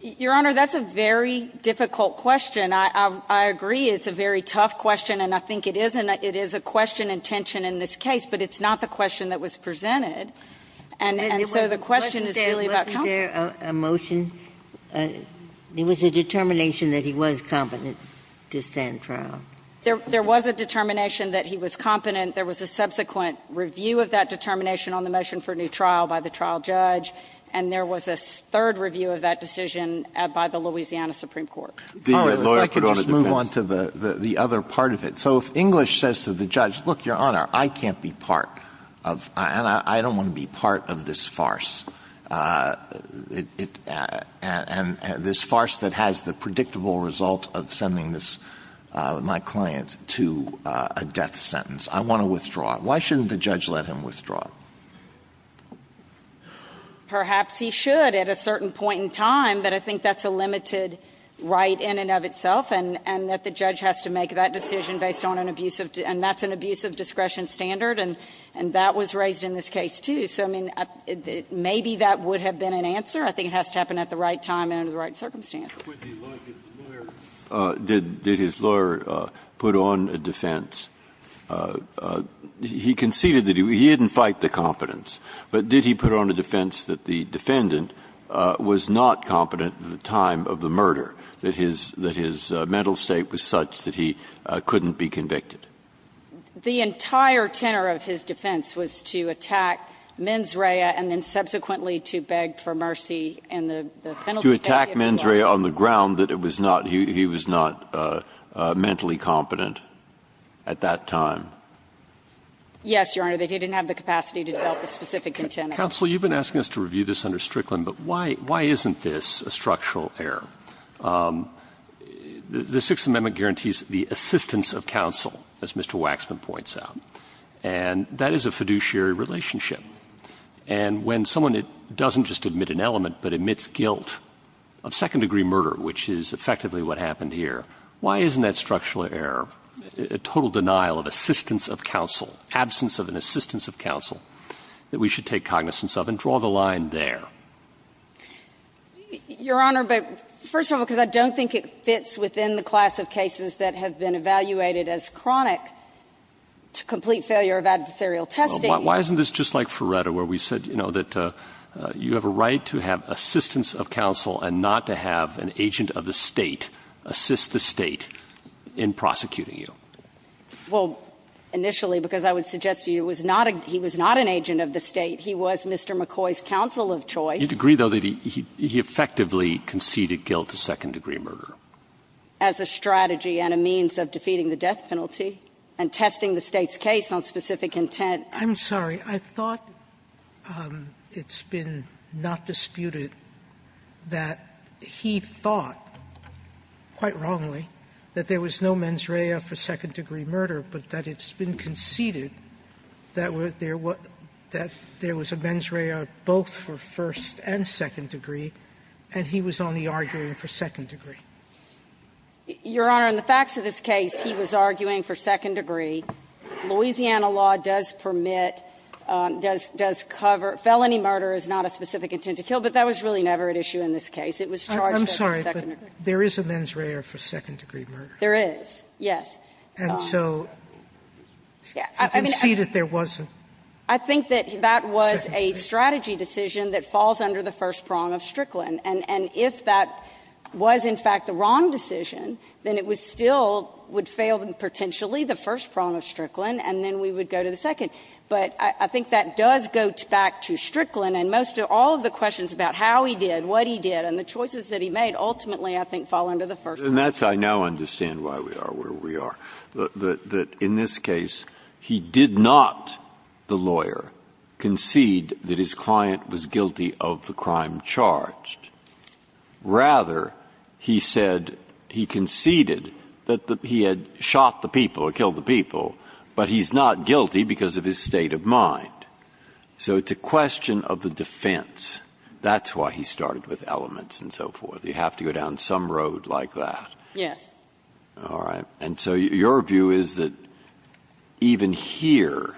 Your Honor, that's a very difficult question. I agree it's a very tough question, and I think it is a question and tension in this case, but it's not the question that was presented. And so the question is really about competence. Ginsburg. Wasn't there a motion – there was a determination that he was competent to stand trial? There was a determination that he was competent. There was a subsequent review of that determination on the motion for a new trial by the trial judge, and there was a third review of that decision by the Louisiana Supreme Court. The lawyer put on a defense. I could just move on to the other part of it. So if English says to the judge, look, Your Honor, I can't be part of – and I don't want to be part of this farce, and this farce that has the predictable result of sending this – my client to a death sentence. I want to withdraw. Why shouldn't the judge let him withdraw? Perhaps he should at a certain point in time, but I think that's a limited right in and of itself, and that the judge has to make that decision based on an abusive – and that's an abuse of discretion standard. And that was raised in this case, too. So, I mean, maybe that would have been an answer. I think it has to happen at the right time and under the right circumstance. Would the lawyer – did his lawyer put on a defense? He conceded that he – he didn't fight the competence, but did he put on a defense that the defendant was not competent at the time of the murder, that his – that his mental state was such that he couldn't be convicted? The entire tenor of his defense was to attack Menz Rhea and then subsequently to beg for mercy and the penalty. To attack Menz Rhea on the ground that it was not – he was not mentally competent at that time? Yes, Your Honor, that he didn't have the capacity to develop a specific intent. Counsel, you've been asking us to review this under Strickland, but why isn't this a structural error? The Sixth Amendment guarantees the assistance of counsel, as Mr. Waxman points out, and that is a fiduciary relationship. And when someone doesn't just admit an element but admits guilt of second-degree murder, which is effectively what happened here, why isn't that structural error a total denial of assistance of counsel, absence of an assistance of counsel, that we should take cognizance of and draw the line there? Your Honor, but first of all, because I don't think it fits within the class of cases that have been evaluated as chronic to complete failure of adversarial testing. Well, why isn't this just like Ferretta, where we said, you know, that you have a right to have assistance of counsel and not to have an agent of the State assist the State in prosecuting you? Well, initially, because I would suggest to you it was not a – he was not an agent of the State. He was Mr. McCoy's counsel of choice. You'd agree, though, that he effectively conceded guilt of second-degree murder? As a strategy and a means of defeating the death penalty and testing the State's case on specific intent. I'm sorry. I thought it's been not disputed that he thought, quite wrongly, that there was no mens rea for second-degree murder, but that it's been conceded that there was no men's rea for second-degree murder, but that there was a mens rea both for first and second degree, and he was only arguing for second-degree. Your Honor, in the facts of this case, he was arguing for second-degree. Louisiana law does permit, does cover – felony murder is not a specific intent to kill, but that was really never at issue in this case. It was charged as a second-degree murder. I'm sorry, but there is a mens rea for second-degree murder. There is, yes. And so you can see that there was a second-degree. I think that that was a strategy decision that falls under the first prong of Strickland. And if that was, in fact, the wrong decision, then it was still would fail potentially the first prong of Strickland, and then we would go to the second. But I think that does go back to Strickland, and most of – all of the questions about how he did, what he did, and the choices that he made ultimately, I think, fall under the first prong. And that's – I now understand why we are where we are, that in this case, he did not, the lawyer, concede that his client was guilty of the crime charged. Rather, he said he conceded that he had shot the people or killed the people, but he's not guilty because of his state of mind. So it's a question of the defense. That's why he started with elements and so forth. You have to go down some road like that. Yes. All right. And so your view is that even here,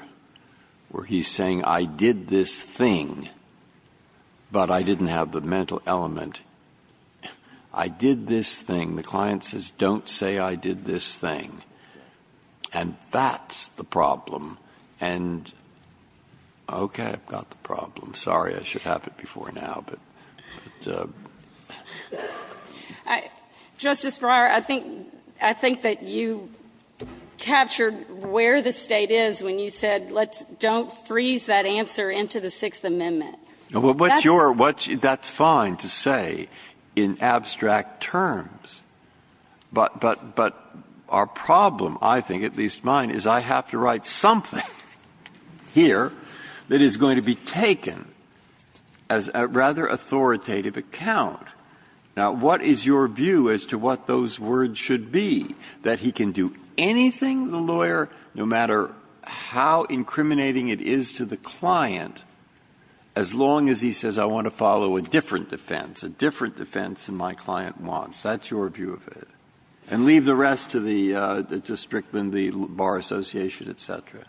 where he's saying, I did this thing, but I didn't have the mental element, I did this thing, the client says, don't say I did this thing, and that's the problem. And okay, I've got the problem. I'm sorry I should have it before now, but the question is, what is the problem? Justice Breyer, I think that you captured where the State is when you said, let's don't freeze that answer into the Sixth Amendment. Well, what's your – that's fine to say in abstract terms, but our problem, I think, at least mine, is I have to write something here that is going to be taken as a rather authoritative account. Now, what is your view as to what those words should be, that he can do anything, the lawyer, no matter how incriminating it is to the client, as long as he says, I want to follow a different defense, a different defense than my client wants. That's your view of it. And leave the rest to the Strickland, the Bar Association, et cetera.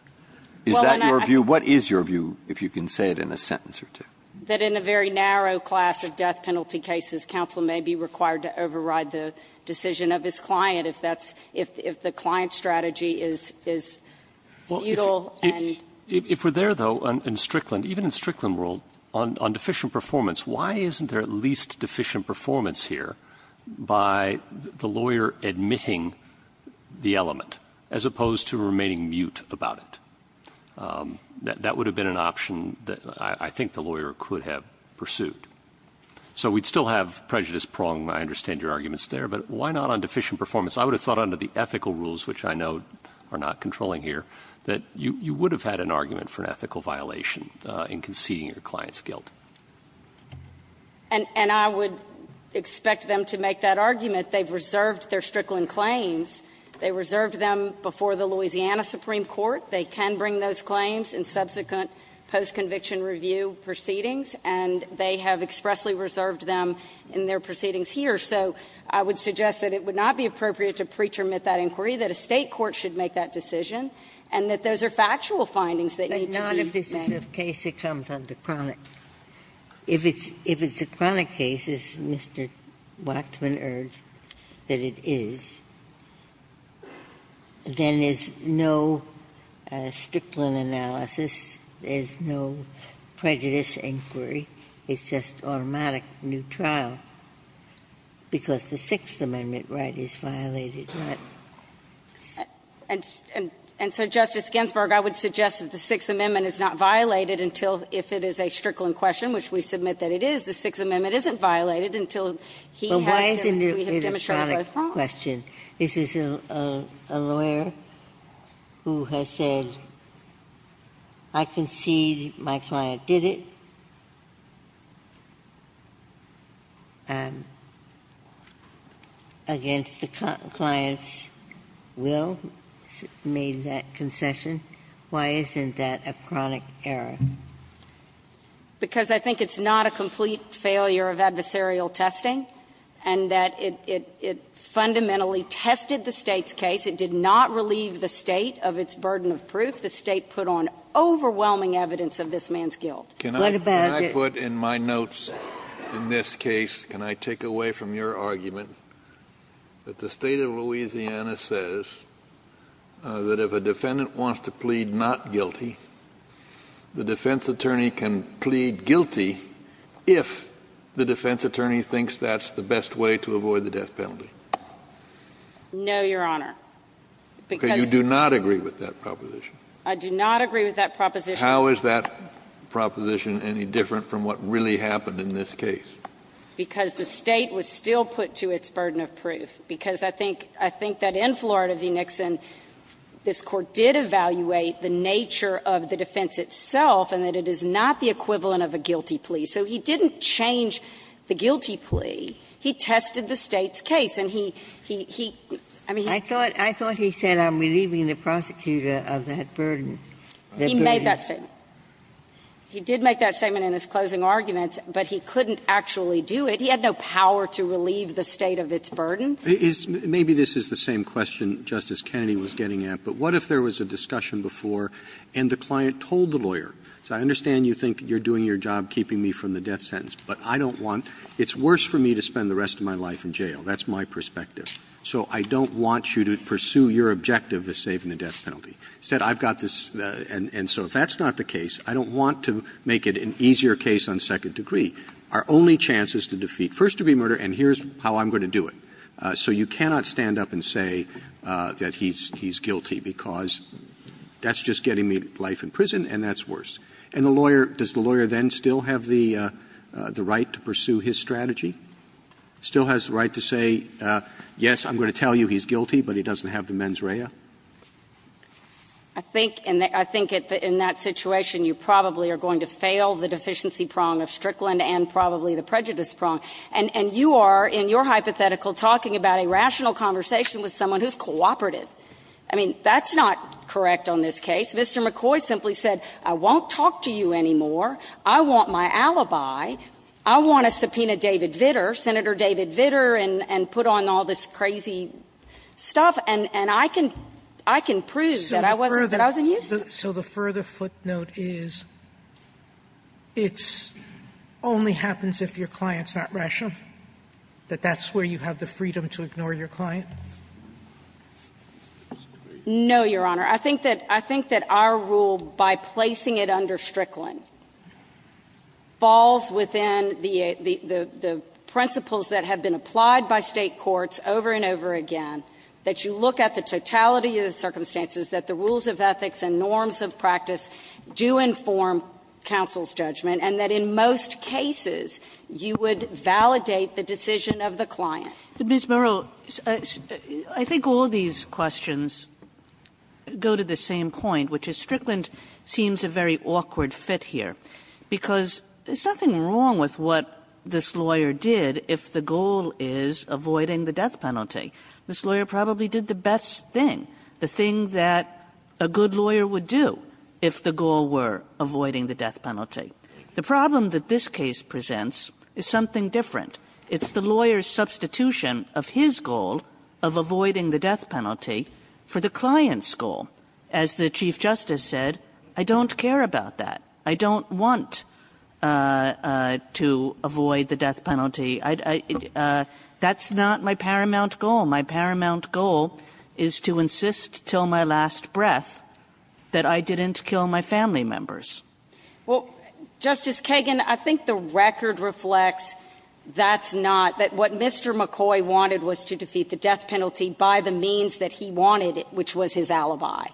Is that your view? What is your view, if you can say it in a sentence or two? That in a very narrow class of death penalty cases, counsel may be required to override the decision of his client if that's – if the client's strategy is futile and – If we're there, though, in Strickland, even in Strickland rule, on deficient performance here, by the lawyer admitting the element, as opposed to remaining mute about it. That would have been an option that I think the lawyer could have pursued. So we'd still have prejudice pronged, I understand your arguments there, but why not on deficient performance? I would have thought under the ethical rules, which I know are not controlling here, that you would have had an argument for an ethical violation in conceding your client's guilt. And I would expect them to make that argument. They've reserved their Strickland claims. They reserved them before the Louisiana Supreme Court. They can bring those claims in subsequent post-conviction review proceedings, and they have expressly reserved them in their proceedings here. So I would suggest that it would not be appropriate to pretermit that inquiry, that a State court should make that decision, and that those are factual findings that need to be made. Ginsburg. If this is a case that comes under chronic, if it's a chronic case, as Mr. Waxman urged, that it is, then there's no Strickland analysis, there's no prejudice inquiry, it's just automatic new trial, because the Sixth Amendment right is violated. And so, Justice Ginsburg, I would suggest that the Sixth Amendment is not violated until, if it is a Strickland question, which we submit that it is, the Sixth Amendment isn't violated until he has demonstrated both wrongs. Ginsburg. But why isn't it a chronic question? This is a lawyer who has said, I concede my client did it, against the client's will, made that concession. Why isn't that a chronic error? Because I think it's not a complete failure of adversarial testing, and that it fundamentally tested the State's case. It did not relieve the State of its burden of proof. The State put on overwhelming evidence of this man's guilt. What about it? Can I put in my notes in this case, can I take away from your argument, that the State of Louisiana says that if a defendant wants to plead not guilty, the defense attorney can plead guilty if the defense attorney thinks that's the best way to avoid the death penalty? No, Your Honor. Because you do not agree with that proposition. I do not agree with that proposition. How is that proposition any different from what really happened in this case? Because the State was still put to its burden of proof. Because I think that in Florida v. Nixon, this Court did evaluate the nature of the defense itself, and that it is not the equivalent of a guilty plea. So he didn't change the guilty plea. He tested the State's case. And he, he, he, I mean, he didn't. I thought he said, I'm relieving the prosecutor of that burden. He made that statement. He did make that statement in his closing arguments. But he couldn't actually do it. He had no power to relieve the State of its burden. Maybe this is the same question Justice Kennedy was getting at. But what if there was a discussion before and the client told the lawyer, I understand you think you're doing your job keeping me from the death sentence, but I don't want, it's worse for me to spend the rest of my life in jail. That's my perspective. So I don't want you to pursue your objective of saving the death penalty. Instead, I've got this, and so if that's not the case, I don't want to make it an easier case on second degree. Our only chance is to defeat first-degree murder, and here's how I'm going to do it. So you cannot stand up and say that he's, he's guilty, because that's just getting me life in prison, and that's worse. And the lawyer, does the lawyer then still have the, the right to pursue his strategy? Still has the right to say, yes, I'm going to tell you he's guilty, but he doesn't have the mens rea? I think, and I think in that situation, you probably are going to fail the deficiency prong of Strickland and probably the prejudice prong, and, and you are, in your hypothetical, talking about a rational conversation with someone who's cooperative. I mean, that's not correct on this case. Mr. McCoy simply said, I won't talk to you anymore, I want my alibi, I want to subpoena David Vitter, Senator David Vitter, and, and put on all this crazy stuff, and, and I can, I can prove that I wasn't, that I wasn't used to it. So the further footnote is, it's, only happens if your client's not rational? That that's where you have the freedom to ignore your client? No, Your Honor. I think that, I think that our rule, by placing it under Strickland, falls within the, the, the, the principles that have been applied by State courts over and over again, that you look at the totality of the circumstances, that the rules of ethics and norms of practice do inform counsel's judgment, and that in most cases, you would validate the decision of the client. Kagan. Ms. Murrow, I, I think all these questions go to the same point, which is Strickland seems a very awkward fit here, because there's nothing wrong with what this lawyer did if the goal is avoiding the death penalty. This lawyer probably did the best thing, the thing that a good lawyer would do if the goal were avoiding the death penalty. The problem that this case presents is something different. It's the lawyer's substitution of his goal of avoiding the death penalty for the client's goal. As the Chief Justice said, I don't care about that. I don't want to avoid the death penalty. I, I, that's not my paramount goal. My paramount goal is to insist till my last breath that I didn't kill my family members. Well, Justice Kagan, I think the record reflects that's not, that what Mr. McCoy wanted was to defeat the death penalty by the means that he wanted, which was his alibi.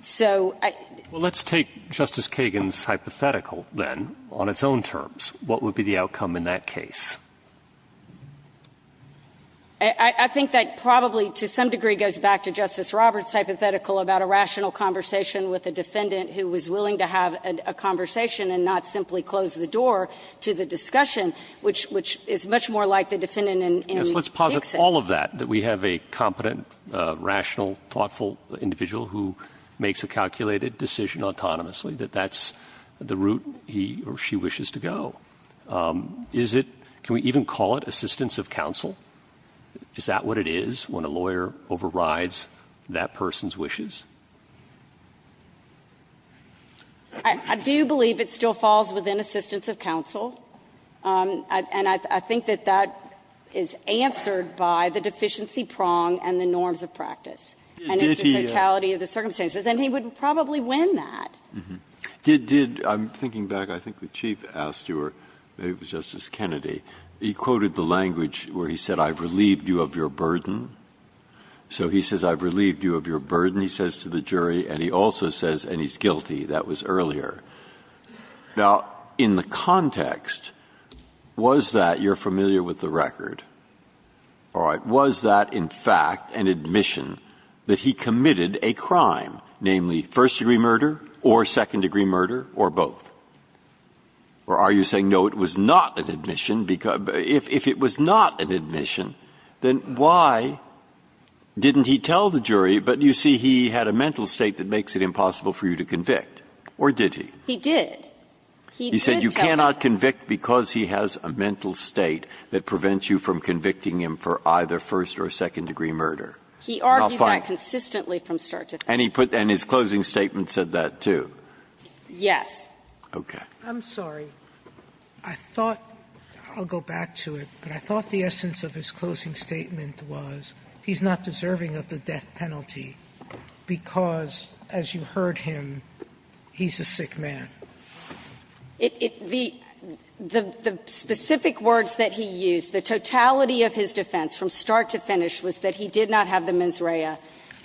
So I. Well, let's take Justice Kagan's hypothetical, then, on its own terms. What would be the outcome in that case? I, I think that probably to some degree goes back to Justice Roberts' hypothetical about a rational conversation with a defendant who was willing to have a conversation and not simply close the door to the discussion, which, which is much more like the defendant in Dixon. Yes, let's posit all of that, that we have a competent, rational, thoughtful individual who makes a calculated decision autonomously, that that's the route he or she wishes to go. Is it, can we even call it assistance of counsel? Is that what it is when a lawyer overrides that person's wishes? I, I do believe it still falls within assistance of counsel. And I, I think that that is answered by the deficiency prong and the norms of practice. And it's the totality of the circumstances. And he would probably win that. Did, did, I'm thinking back, I think the Chief asked you, or maybe it was Justice Kennedy, he quoted the language where he said, I've relieved you of your burden. So he says, I've relieved you of your burden, he says to the jury, and he also says, and he's guilty, that was earlier. Now, in the context, was that, you're familiar with the record, all right, was that in fact an admission that he committed a crime, namely, first-degree murder or second-degree murder, or both? Or are you saying, no, it was not an admission, because, if it was not an admission, then why didn't he tell the jury, but you see, he had a mental state that makes it impossible for you to convict, or did he? He did. He did tell the jury. He said you cannot convict because he has a mental state that prevents you from committing a second-degree murder. He argued that consistently from start to finish. And he put, and his closing statement said that, too? Yes. Okay. I'm sorry. I thought, I'll go back to it, but I thought the essence of his closing statement was he's not deserving of the death penalty because, as you heard him, he's a sick man. It, it, the, the, the specific words that he used, the totality of his defense from start to finish, was that he did not have the mens rea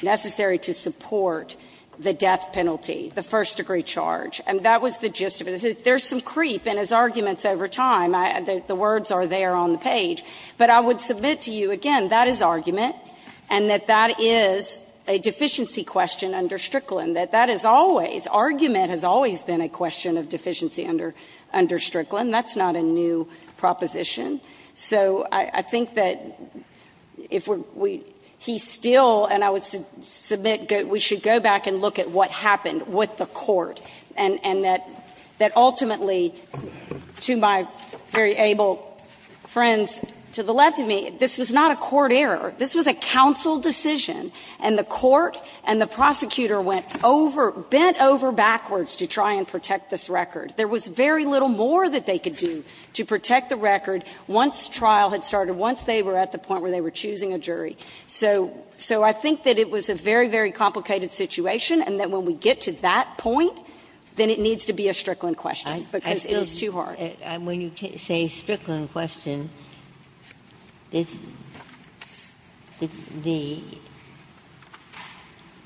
necessary to support the death penalty, the first-degree charge. And that was the gist of it. There's some creep in his arguments over time. I, the words are there on the page. But I would submit to you, again, that is argument, and that that is a deficiency question under Strickland, that that is always, argument has always been a question of deficiency under, under Strickland. That's not a new proposition. So I, I think that if we're, we, he's still, and I would submit, we should go back and look at what happened with the court, and, and that, that ultimately, to my very able friends to the left of me, this was not a court error. This was a counsel decision, and the court and the prosecutor went over, bent over backwards to try and protect this record. There was very little more that they could do to protect the record once trial had started, once they were at the point where they were choosing a jury. So, so I think that it was a very, very complicated situation, and that when we get to that point, then it needs to be a Strickland question, because it is too hard. Ginsburg. And when you say Strickland question, the, the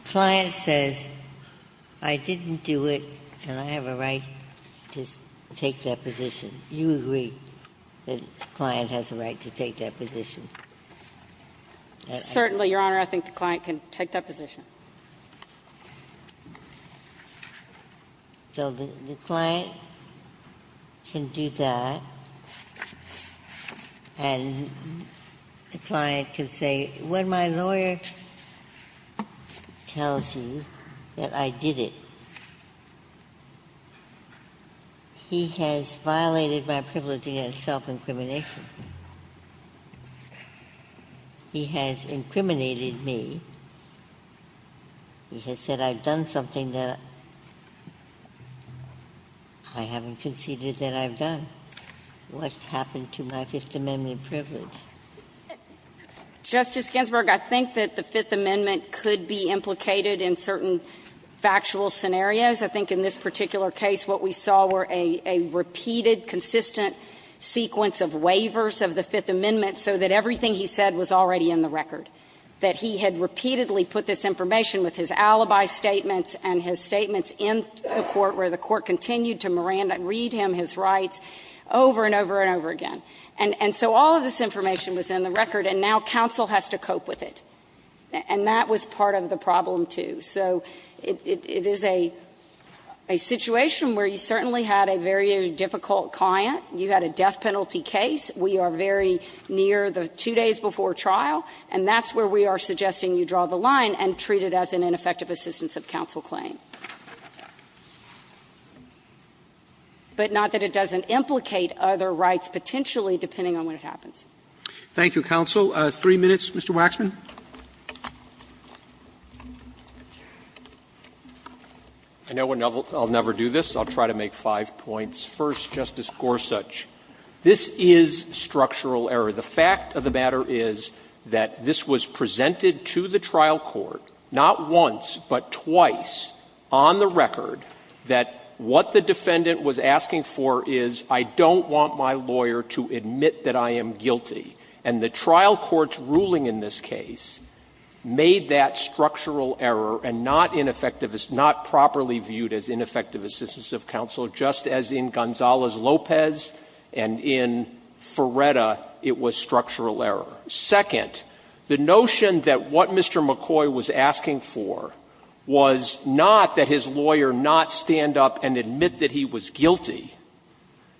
client says, I didn't do it, and I have a right to take that position. You agree that the client has a right to take that position? Certainly, Your Honor. I think the client can take that position. So the, the client can do that, and the client can say, when my lawyer tells you that I did it, he has violated my privilege against self-incrimination. He has incriminated me. He has said I've done something that I haven't conceded that I've done. What's happened to my Fifth Amendment privilege? Justice Ginsburg, I think that the Fifth Amendment could be implicated in certain factual scenarios. I think in this particular case, what we saw were a, a repeated, consistent sequence of waivers of the Fifth Amendment, so that everything he said was already in the record, that he had repeatedly put this information with his alibi statements and his statements in the court, where the court continued to read him his rights over and over and over again. And, and so all of this information was in the record, and now counsel has to cope with it, and that was part of the problem, too. So it, it, it is a, a situation where you certainly had a very difficult client. You had a death penalty case. We are very near the two days before trial, and that's where we are suggesting you draw the line and treat it as an ineffective assistance of counsel claim. But not that it doesn't implicate other rights, potentially, depending on what happens. Robertson, Thank you, counsel. Three minutes, Mr. Waxman. Waxman I know I'll never do this, so I'll try to make five points. First, Justice Gorsuch, this is structural error. The fact of the matter is that this was presented to the trial court, not once, but twice, on the record, that what the defendant was asking for is, I don't want my lawyer to admit that I am guilty. And the trial court's ruling in this case made that structural error and not ineffective, it's not properly viewed as ineffective assistance of counsel, just as in Gonzalez-Lopez and in Ferretta it was structural error. Second, the notion that what Mr. McCoy was asking for was not that his lawyer not stand up and admit that he was guilty,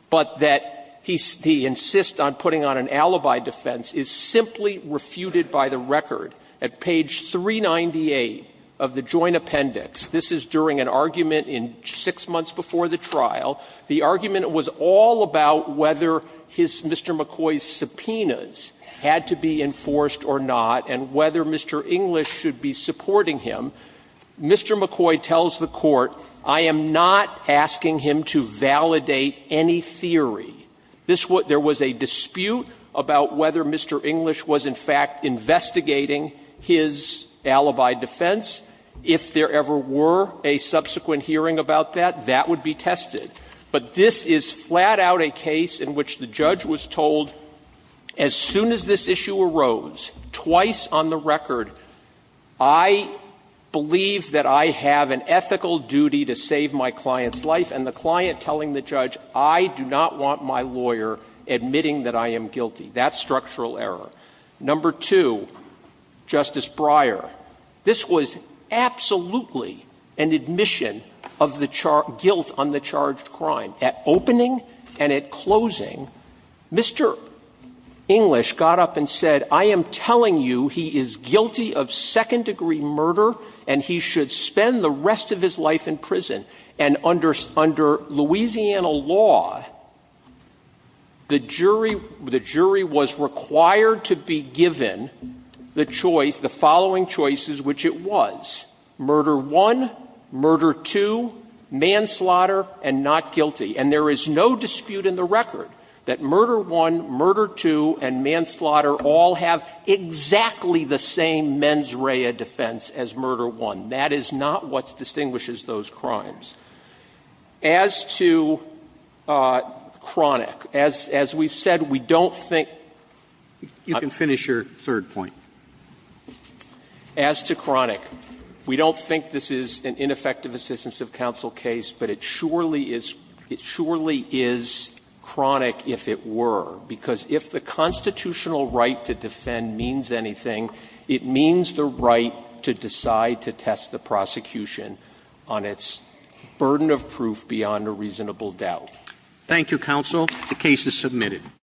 but that he, he insists on putting on an alibi defense is simply refuted by the record at page 398 of the Joint Appendix. This is during an argument in six months before the trial. The argument was all about whether his, Mr. McCoy's subpoenas had to be enforced or not, and whether Mr. English should be supporting him. Mr. McCoy tells the court, I am not asking him to validate any theory. This would be, there was a dispute about whether Mr. English was in fact investigating his alibi defense. If there ever were a subsequent hearing about that, that would be tested. But this is flat out a case in which the judge was told, as soon as this issue arose, twice on the record, I believe that I have an ethical duty to save my client's I do not want my lawyer admitting that I am guilty. That's structural error. Number two, Justice Breyer, this was absolutely an admission of the guilt on the charged crime. At opening and at closing, Mr. English got up and said, I am telling you he is guilty of second-degree murder, and he should spend the rest of his life in prison. And under Louisiana law, the jury was required to be given the choice, the following choices, which it was, murder one, murder two, manslaughter, and not guilty. And there is no dispute in the record that murder one, murder two, and manslaughter all have exactly the same mens rea defense as murder one. That is not what distinguishes those crimes. As to chronic, as we've said, we don't think you can finish your third point. As to chronic, we don't think this is an ineffective assistance of counsel case, but it surely is chronic if it were, because if the constitutional right to defend means anything, it means the right to decide to test the prosecution on its burden of proof beyond a reasonable doubt. Thank you, counsel. The case is submitted.